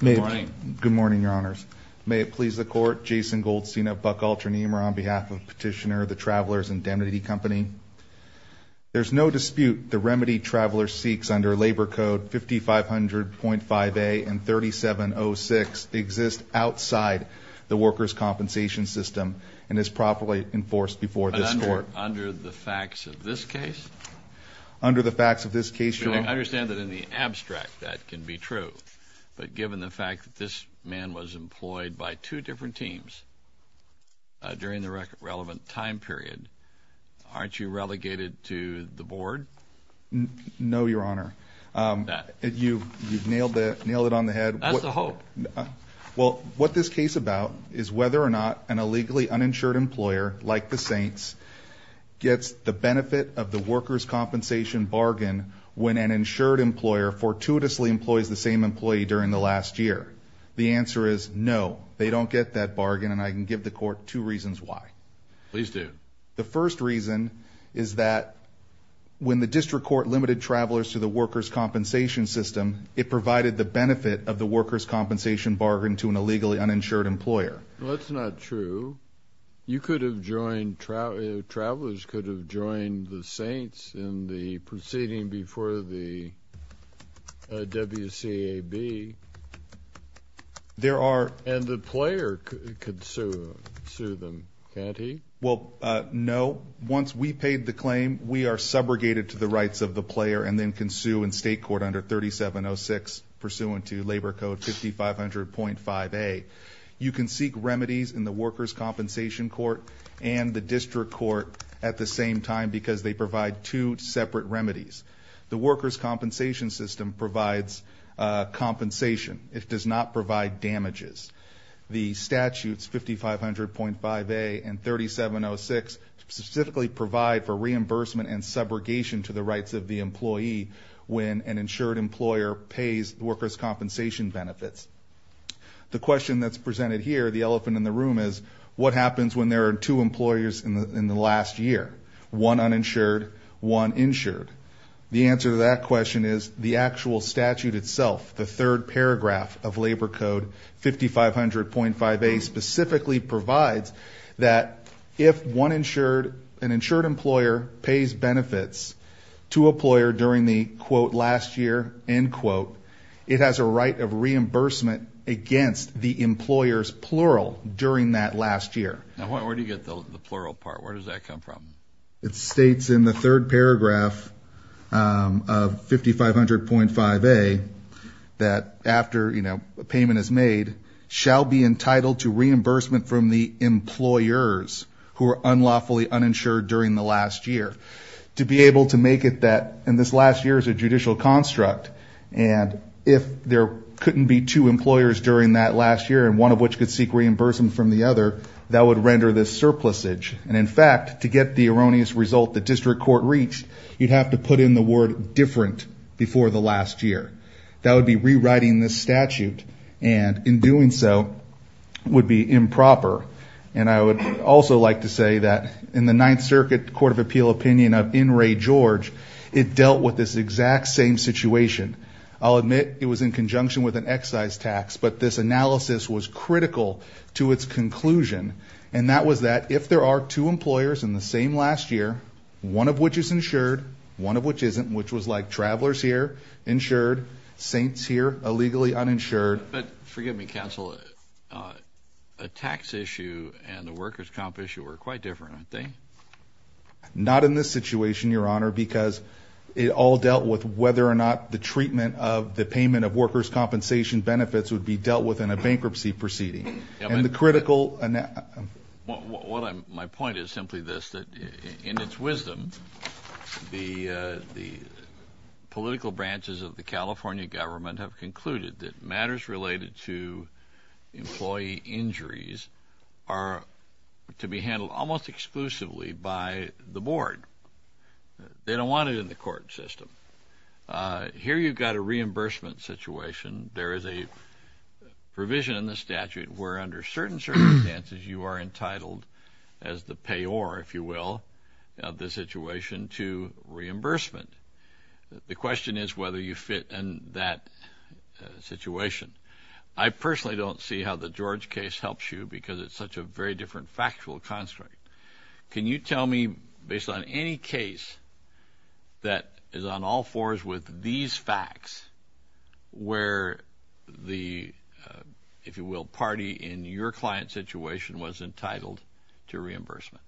Good morning, Your Honors. May it please the Court, Jason Goldstein of Buck Alternium are on behalf of Petitioner of the Travelers Indemnity Company. There's no dispute the remedy Travelers seeks under Labor Code 5500.5a and 3706 exists outside the workers' compensation system and is properly enforced before this Court. But under the facts of this case? I understand that in the abstract that can be true, but given the fact that this man was employed by two different teams during the relevant time period, aren't you relegated to the board? No, Your Honor. You've nailed it on the head. That's the hope. Well, what this case is about is whether or not an illegally uninsured employer like the Saints gets the benefit of the workers' compensation bargain when an insured employer fortuitously employs the same employee during the last year. The answer is no, they don't get that bargain and I can give the Court two reasons why. Please do. The first reason is that when the district court limited Travelers to the workers' compensation system, it provided the benefit of the workers' compensation bargain to an illegally uninsured employer. Well, that's not true. You could have joined Travelers could have joined the Saints in the proceeding before the WCAB. There are. And the player could sue them, can't he? Well, no. Once we paid the claim, we are subrogated to the rights of the player and then can sue in state court under 3706 pursuant to Labor Code 5500.5a. You can seek remedies in the workers' compensation court and the district court at the same time because they provide two separate remedies. The workers' compensation system provides compensation. It does not provide damages. The statutes 5500.5a and 3706 specifically provide for reimbursement and subrogation to the rights of the employee when an insured employer pays workers' compensation benefits. The question that's presented here, the elephant in the room, is what happens when there are two employers in the last year? One uninsured, one insured. The answer to that question is the actual statute itself, the third paragraph of Labor Code 5500.5a, specifically provides that if one insured, an insured employer pays benefits to a employer during the, quote, last year, end quote, it has a right of reimbursement against the employer's plural during that last year. Now, where do you get the plural part? Where does that come from? It states in the third paragraph of 5500.5a that after, you know, a payment is made, shall be entitled to reimbursement from the employers who are unlawfully uninsured during the last year. To be able to make it that, and this last year is a judicial construct, and if there couldn't be two employers during that last year and one of which could seek reimbursement from the other, that would render this surplusage. And, in fact, to get the erroneous result the district court reached, you'd have to put in the word different before the last year. That would be rewriting this statute, and in doing so would be improper. And I would also like to say that in the Ninth Circuit Court of Appeal opinion of N. Ray George, it dealt with this exact same situation. I'll admit it was in conjunction with an excise tax, but this analysis was critical to its conclusion, and that was that if there are two employers in the same last year, one of which is insured, one of which isn't, which was like travelers here insured, saints here illegally uninsured. But forgive me, counsel, a tax issue and a workers' comp issue are quite different, aren't they? Not in this situation, Your Honor, because it all dealt with whether or not the treatment of the payment of workers' compensation benefits would be dealt with in a bankruptcy proceeding. My point is simply this, that in its wisdom, the political branches of the California government have concluded that matters related to employee injuries are to be handled almost exclusively by the board. They don't want it in the court system. Here you've got a reimbursement situation. There is a provision in the statute where under certain circumstances you are entitled as the payor, if you will, of the situation to reimbursement. The question is whether you fit in that situation. I personally don't see how the George case helps you because it's such a very different factual construct. Can you tell me, based on any case that is on all fours with these facts, where the, if you will, party in your client's situation was entitled to reimbursement?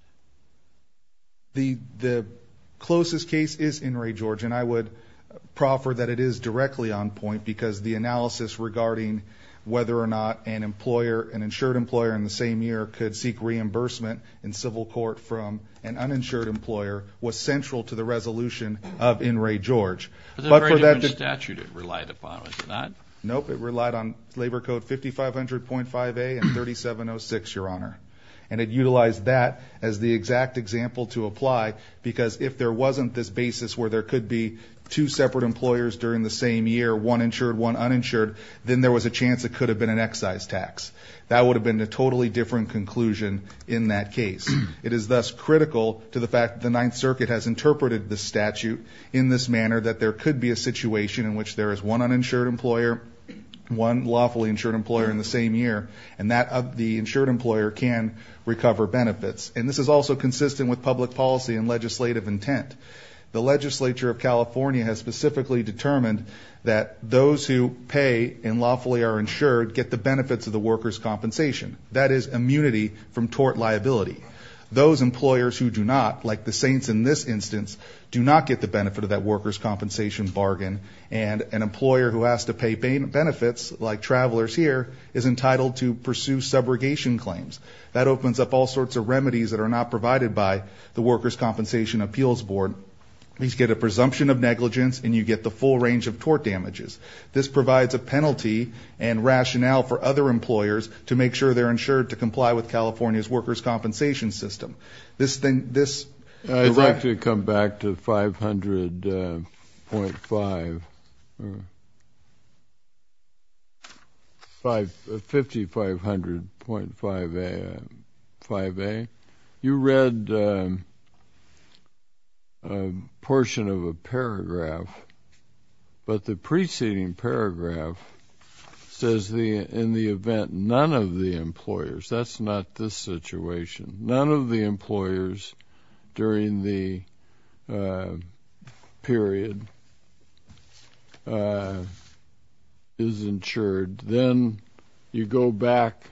The closest case is In re, George, and I would proffer that it is directly on point because the analysis regarding whether or not an employer, an insured employer in the same year could seek reimbursement in civil court from an uninsured employer was central to the resolution of In re, George. But for that to be. It was a very different statute it relied upon, was it not? Nope, it relied on Labor Code 5500.5A and 3706, Your Honor. And it utilized that as the exact example to apply because if there wasn't this basis where there could be two separate employers during the same year, one insured, one uninsured, then there was a chance it could have been an excise tax. That would have been a totally different conclusion in that case. It is thus critical to the fact that the Ninth Circuit has interpreted the statute in this manner, that there could be a situation in which there is one uninsured employer, one lawfully insured employer in the same year, and that the insured employer can recover benefits. And this is also consistent with public policy and legislative intent. The legislature of California has specifically determined that those who pay and lawfully are insured get the benefits of the workers' compensation. That is immunity from tort liability. Those employers who do not, like the Saints in this instance, do not get the benefit of that workers' compensation bargain. And an employer who has to pay benefits, like travelers here, is entitled to pursue subrogation claims. That opens up all sorts of remedies that are not provided by the Workers' Compensation Appeals Board. You get a presumption of negligence and you get the full range of tort damages. This provides a penalty and rationale for other employers to make sure they're insured to comply with California's workers' compensation system. I'd like to come back to 500.5, 5500.5a. You read a portion of a paragraph, but the preceding paragraph says in the event none of the employers, that's not this situation, none of the employers during the period is insured, then you go back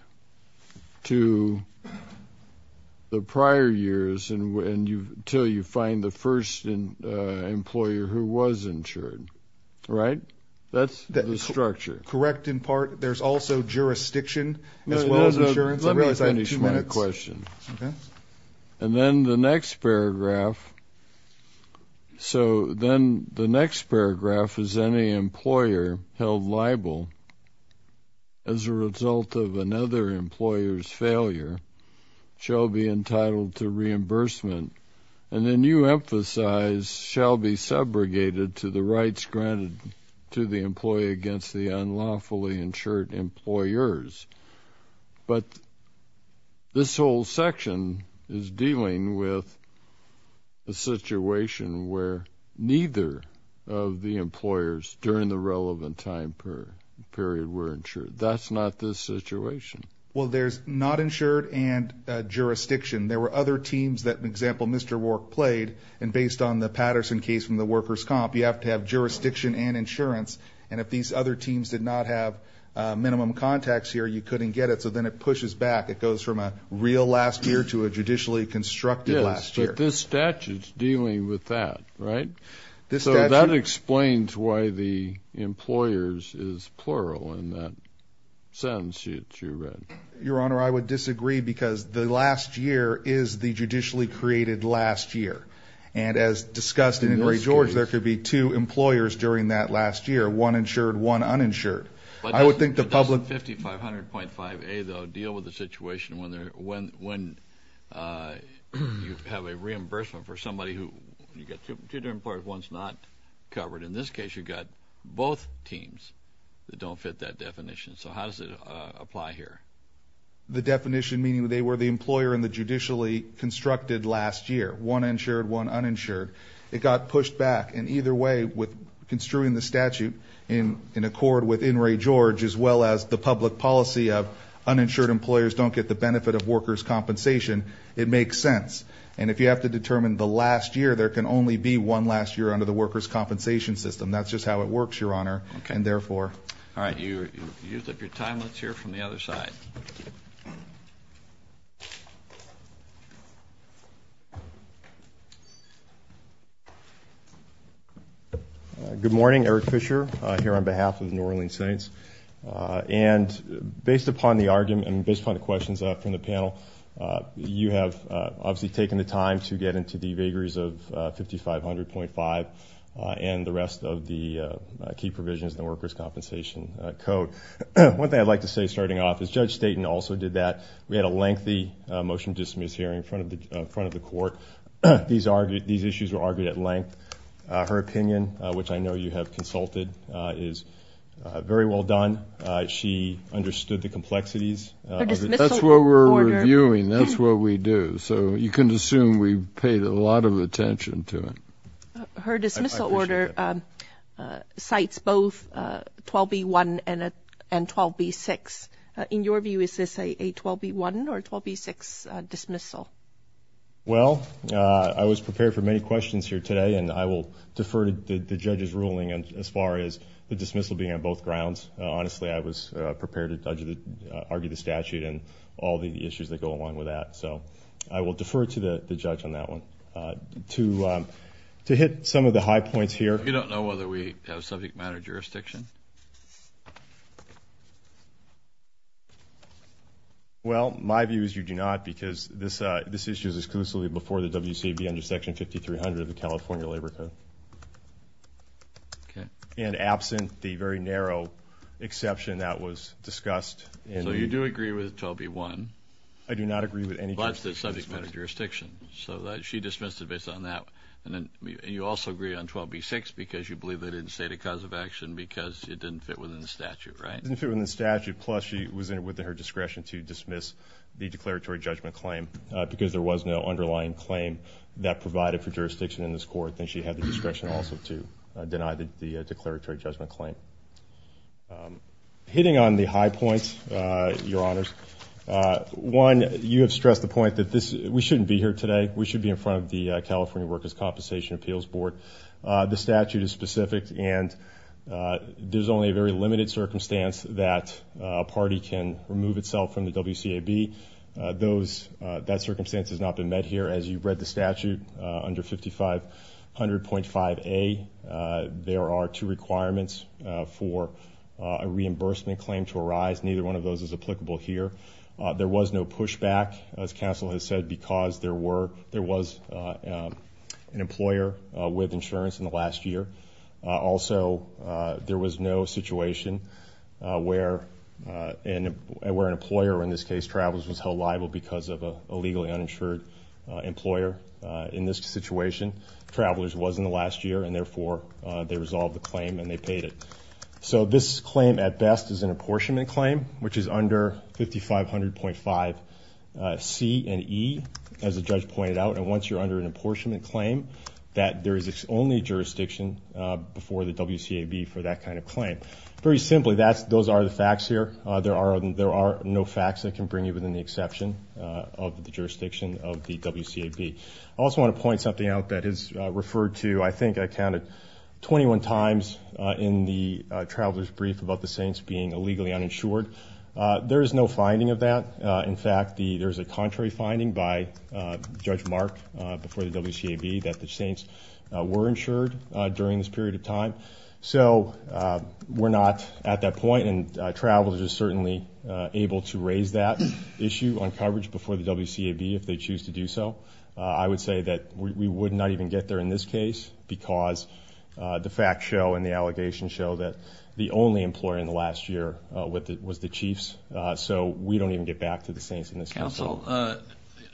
to the prior years until you find the first employer who was insured, right? That's the structure. There's also jurisdiction as well as insurance. Let me finish my question. Okay. And then the next paragraph. So then the next paragraph is any employer held liable as a result of another employer's failure shall be entitled to reimbursement. And then you emphasize shall be segregated to the rights granted to the employee against the unlawfully insured employers. But this whole section is dealing with a situation where neither of the employers during the relevant time period were insured. That's not this situation. Well, there's not insured and jurisdiction. There were other teams that, for example, Mr. Wark played, and based on the Patterson case from the workers' comp, you have to have jurisdiction and insurance. And if these other teams did not have minimum contacts here, you couldn't get it. So then it pushes back. It goes from a real last year to a judicially constructed last year. Yes, but this statute is dealing with that, right? So that explains why the employers is plural in that sentence that you read. Your Honor, I would disagree because the last year is the judicially created last year. And as discussed in Ray George, there could be two employers during that last year, one insured, one uninsured. But doesn't 5500.5A, though, deal with the situation when you have a reimbursement for somebody who you've got two different employers, one's not covered. In this case, you've got both teams that don't fit that definition. So how does it apply here? The definition meaning they were the employer in the judicially constructed last year, one insured, one uninsured. It got pushed back. And either way, with construing the statute in accord with in Ray George, as well as the public policy of uninsured employers don't get the benefit of workers' compensation, it makes sense. And if you have to determine the last year, there can only be one last year under the workers' compensation system. That's just how it works, Your Honor, and therefore. All right. You've used up your time. Let's hear from the other side. Good morning. Eric Fisher here on behalf of New Orleans Saints. And based upon the argument and based upon the questions from the panel, you have obviously taken the time to get into the vagaries of 5500.5 and the rest of the key provisions in the workers' compensation code. One thing I'd like to say starting off is Judge Staten also did that. We had a lengthy motion to dismiss hearing in front of the court. These issues were argued at length. Her opinion, which I know you have consulted, is very well done. She understood the complexities. That's what we're reviewing. That's what we do. So you can assume we paid a lot of attention to it. Her dismissal order cites both 12B1 and 12B6. In your view, is this a 12B1 or a 12B6 dismissal? Well, I was prepared for many questions here today, and I will defer to the judge's ruling as far as the dismissal being on both grounds. Honestly, I was prepared to argue the statute and all the issues that go along with that. So I will defer to the judge on that one. To hit some of the high points here. You don't know whether we have subject matter jurisdiction? Well, my view is you do not because this issue is exclusively before the WCB under Section 5300 of the California Labor Code. Okay. And absent the very narrow exception that was discussed. So you do agree with 12B1? I do not agree with any jurisdiction. But the subject matter jurisdiction. So she dismissed it based on that. And you also agree on 12B6 because you believe they didn't state a cause of action because it didn't fit within the statute, right? It didn't fit within the statute, plus she was within her discretion to dismiss the declaratory judgment claim because there was no underlying claim that provided for jurisdiction in this court. And she had the discretion also to deny the declaratory judgment claim. Hitting on the high points, Your Honors. One, you have stressed the point that we shouldn't be here today. We should be in front of the California Workers' Compensation Appeals Board. The statute is specific, and there's only a very limited circumstance that a party can remove itself from the WCAB. That circumstance has not been met here. As you read the statute under 5500.5A, there are two requirements for a reimbursement claim to arise. Neither one of those is applicable here. There was no pushback, as counsel has said, because there was an employer with insurance in the last year. Also, there was no situation where an employer, in this case Travelers, was held liable because of a legally uninsured employer in this situation. Travelers was in the last year, and therefore they resolved the claim and they paid it. So this claim, at best, is an apportionment claim, which is under 5500.5C and E, as the judge pointed out. And once you're under an apportionment claim, that there is only jurisdiction before the WCAB for that kind of claim. Very simply, those are the facts here. There are no facts that can bring you within the exception of the jurisdiction of the WCAB. I also want to point something out that is referred to, I think I counted, 21 times in the Travelers' brief about the Saints being illegally uninsured. There is no finding of that. In fact, there is a contrary finding by Judge Mark before the WCAB that the Saints were insured during this period of time. So we're not at that point, and Travelers are certainly able to raise that issue on coverage before the WCAB if they choose to do so. I would say that we would not even get there in this case because the facts show and the allegations show that the only employer in the last year was the Chiefs. So we don't even get back to the Saints in this case. Counsel,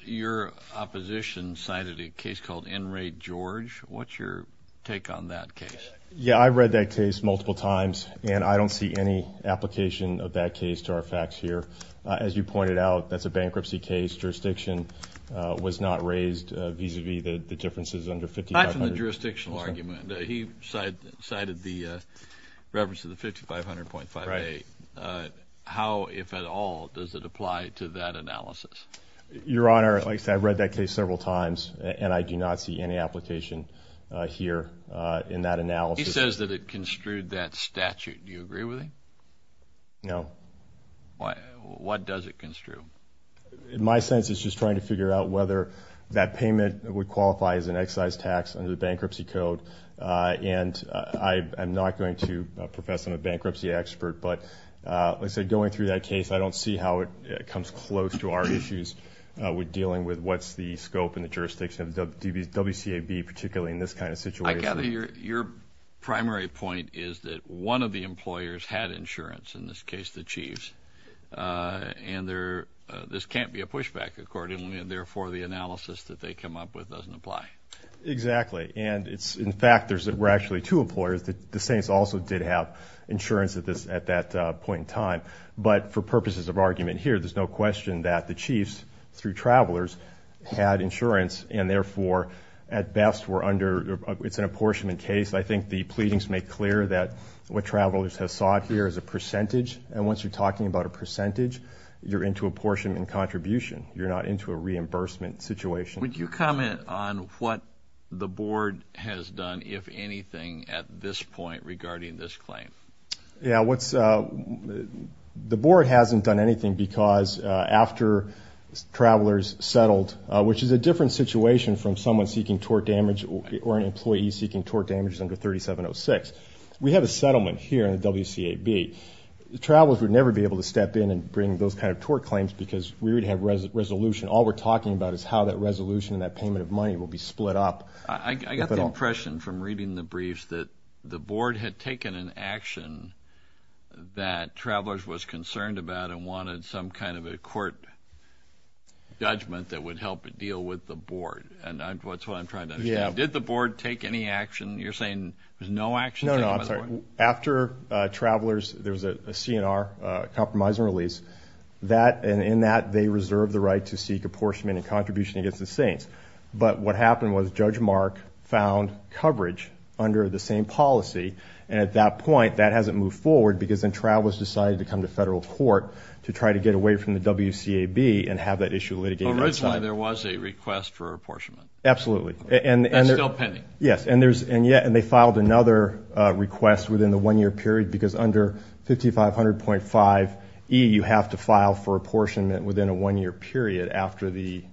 your opposition cited a case called NRAGE George. What's your take on that case? Yeah, I've read that case multiple times, and I don't see any application of that case to our facts here. As you pointed out, that's a bankruptcy case. Jurisdiction was not raised vis-à-vis the differences under 5500. Aside from the jurisdictional argument, he cited the reference to the 5500.58. How, if at all, does it apply to that analysis? Your Honor, like I said, I've read that case several times, and I do not see any application here in that analysis. He says that it construed that statute. Do you agree with him? No. What does it construe? In my sense, it's just trying to figure out whether that payment would qualify as an excise tax under the bankruptcy code. And I'm not going to profess I'm a bankruptcy expert, but, like I said, going through that case, I don't see how it comes close to our issues with dealing with what's the scope and the jurisdiction of WCAB, particularly in this kind of situation. I gather your primary point is that one of the employers had insurance, in this case the chiefs, and this can't be a pushback accordingly, and, therefore, the analysis that they come up with doesn't apply. Exactly. And, in fact, there were actually two employers. The Saints also did have insurance at that point in time. But for purposes of argument here, there's no question that the chiefs, through travelers, had insurance, and, therefore, at best, it's an apportionment case. I think the pleadings make clear that what travelers have sought here is a percentage, and once you're talking about a percentage, you're into apportionment contribution. You're not into a reimbursement situation. Would you comment on what the board has done, if anything, at this point regarding this claim? Yeah, the board hasn't done anything because after travelers settled, which is a different situation from someone seeking tort damage or an employee seeking tort damage under 3706. We have a settlement here in the WCAB. Travelers would never be able to step in and bring those kind of tort claims because we would have resolution. All we're talking about is how that resolution and that payment of money will be split up. I got the impression from reading the briefs that the board had taken an action that travelers was concerned about and wanted some kind of a court judgment that would help deal with the board. That's what I'm trying to understand. Did the board take any action? You're saying there was no action taken by the board? No, no, I'm sorry. After travelers, there was a CNR compromise and release. In that, they reserved the right to seek apportionment and contribution against the Saints. But what happened was Judge Mark found coverage under the same policy. And at that point, that hasn't moved forward because then travelers decided to come to federal court to try to get away from the WCAB and have that issue litigated. Originally, there was a request for apportionment. Absolutely. That's still pending. Yes, and they filed another request within the one-year period because under 5500.5E, you have to file for apportionment within a one-year period after the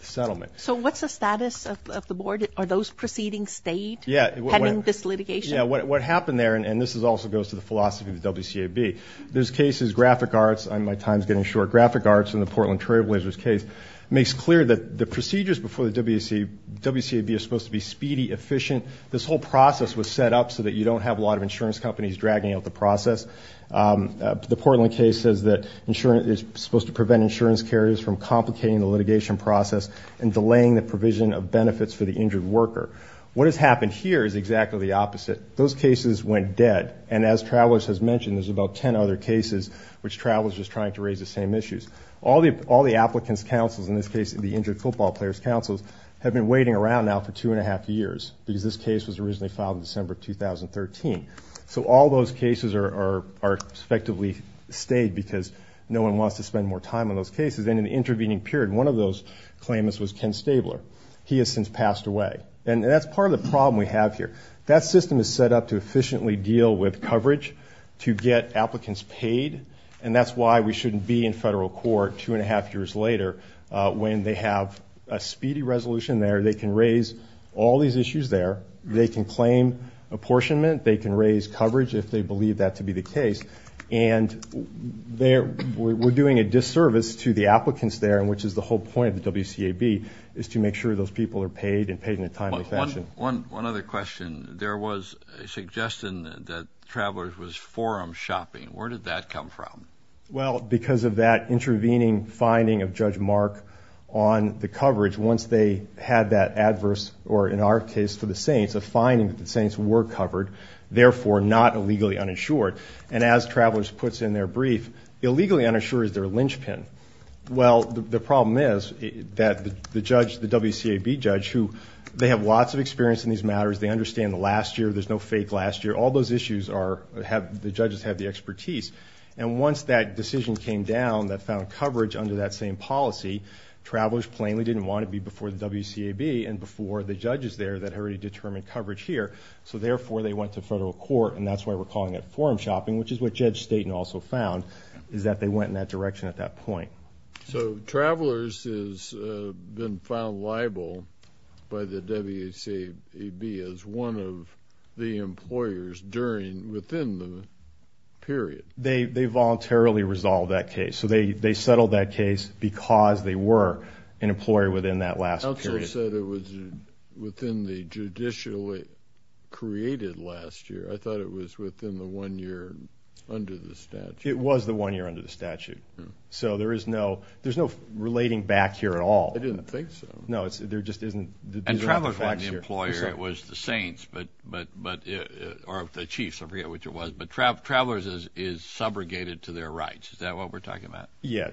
settlement. So what's the status of the board? Are those proceedings stayed pending this litigation? Yes, what happened there, and this also goes to the philosophy of the WCAB, this case is graphic arts, my time's getting short, graphic arts in the Portland Trailblazers case, makes clear that the procedures before the WCAB are supposed to be speedy, efficient. This whole process was set up so that you don't have a lot of insurance companies dragging out the process. The Portland case says that insurance is supposed to prevent insurance carriers from complicating the litigation process and delaying the provision of benefits for the injured worker. What has happened here is exactly the opposite. Those cases went dead, and as Travelers has mentioned, there's about ten other cases which Travelers is trying to raise the same issues. All the applicants' counsels, in this case the injured football players' counsels, have been waiting around now for two-and-a-half years because this case was originally filed in December 2013. So all those cases are effectively stayed because no one wants to spend more time on those cases, and in the intervening period, one of those claimants was Ken Stabler. He has since passed away, and that's part of the problem we have here. That system is set up to efficiently deal with coverage, to get applicants paid, and that's why we shouldn't be in federal court two-and-a-half years later when they have a speedy resolution there, they can raise all these issues there, they can claim apportionment, they can raise coverage if they believe that to be the case, and we're doing a disservice to the applicants there, which is the whole point of the WCAB, is to make sure those people are paid and paid in a timely fashion. One other question. There was a suggestion that Travelers was forum shopping. Where did that come from? Well, because of that intervening finding of Judge Mark on the coverage, once they had that adverse, or in our case, for the Saints, a finding that the Saints were covered, therefore not illegally uninsured, and as Travelers puts in their brief, illegally uninsured is their linchpin. Well, the problem is that the judge, the WCAB judge, who they have lots of experience in these matters, they understand the last year, there's no fake last year, all those issues are, the judges have the expertise, and once that decision came down that found coverage under that same policy, Travelers plainly didn't want to be before the WCAB and before the judges there that had already determined coverage here, so therefore they went to federal court, and that's why we're calling it forum shopping, which is what Judge Staten also found, is that they went in that direction at that point. So Travelers has been found liable by the WCAB as one of the employers during, within the period. They voluntarily resolved that case. So they settled that case because they were an employer within that last period. You also said it was within the judicial created last year. I thought it was within the one year under the statute. It was the one year under the statute. So there is no, there's no relating back here at all. I didn't think so. No, there just isn't. And Travelers wasn't the employer, it was the Saints, or the Chiefs, I forget which it was, but Travelers is subrogated to their rights. Is that what we're talking about? Yeah.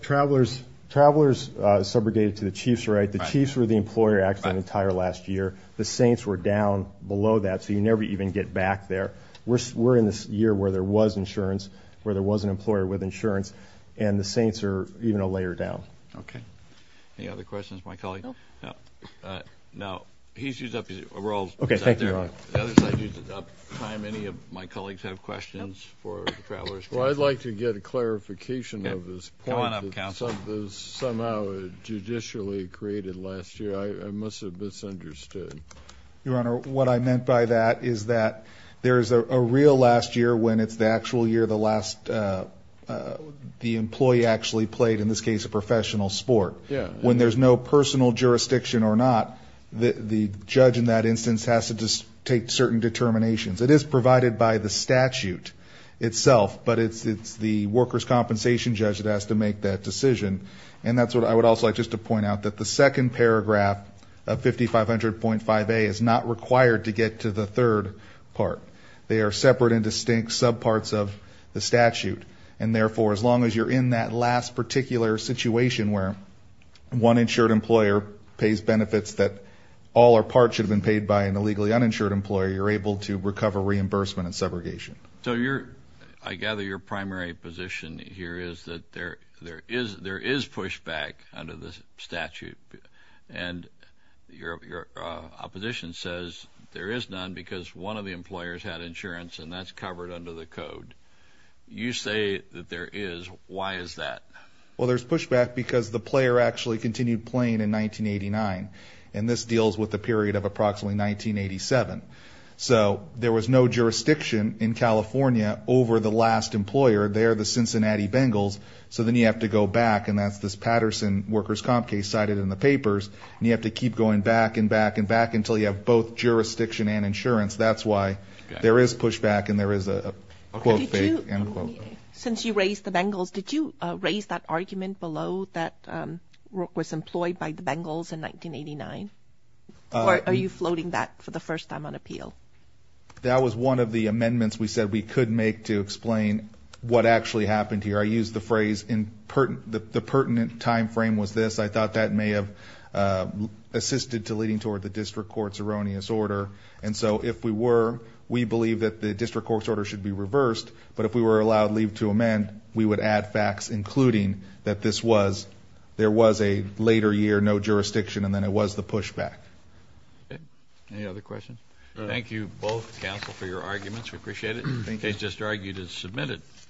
Travelers is subrogated to the Chiefs' right. The Chiefs were the employer actually the entire last year. The Saints were down below that, so you never even get back there. We're in this year where there was insurance, where there was an employer with insurance, and the Saints are even a layer down. Okay. Any other questions of my colleague? No. No. He's used up his rolls. Okay. Thank you, Your Honor. The other side used up time. Any of my colleagues have questions for Travelers? Well, I'd like to get a clarification of this point. Come on up, counsel. It was somehow judicially created last year. I must have misunderstood. Your Honor, what I meant by that is that there is a real last year when it's the actual year, the last, the employee actually played, in this case, a professional sport. Yeah. When there's no personal jurisdiction or not, the judge in that instance has to take certain determinations. It is provided by the statute itself, but it's the workers' compensation judge that has to make that decision, and that's what I would also like just to point out, that the second paragraph of 5500.5A is not required to get to the third part. They are separate and distinct subparts of the statute, and therefore, as long as you're in that last particular situation where one insured employer pays benefits that all or part should have been paid by an illegally uninsured employer, you're able to recover reimbursement and segregation. So I gather your primary position here is that there is pushback under the statute, and your opposition says there is none because one of the employers had insurance, and that's covered under the code. You say that there is. Why is that? Well, there's pushback because the player actually continued playing in 1989, and this deals with the period of approximately 1987. So there was no jurisdiction in California over the last employer there, the Cincinnati Bengals, so then you have to go back, and that's this Patterson workers' comp case cited in the papers, and you have to keep going back and back and back until you have both jurisdiction and insurance. That's why there is pushback and there is a, quote, faith, end quote. Since you raised the Bengals, did you raise that argument below that work was employed by the Bengals in 1989, or are you floating that for the first time on appeal? That was one of the amendments we said we could make to explain what actually happened here. I used the phrase the pertinent time frame was this. I thought that may have assisted to leading toward the district court's erroneous order, and so if we were, we believe that the district court's order should be reversed, but if we were allowed leave to amend, we would add facts including that this was, there was a later year, no jurisdiction, and then it was the pushback. Any other questions? Thank you both, counsel, for your arguments. We appreciate it. The case just argued is submitted.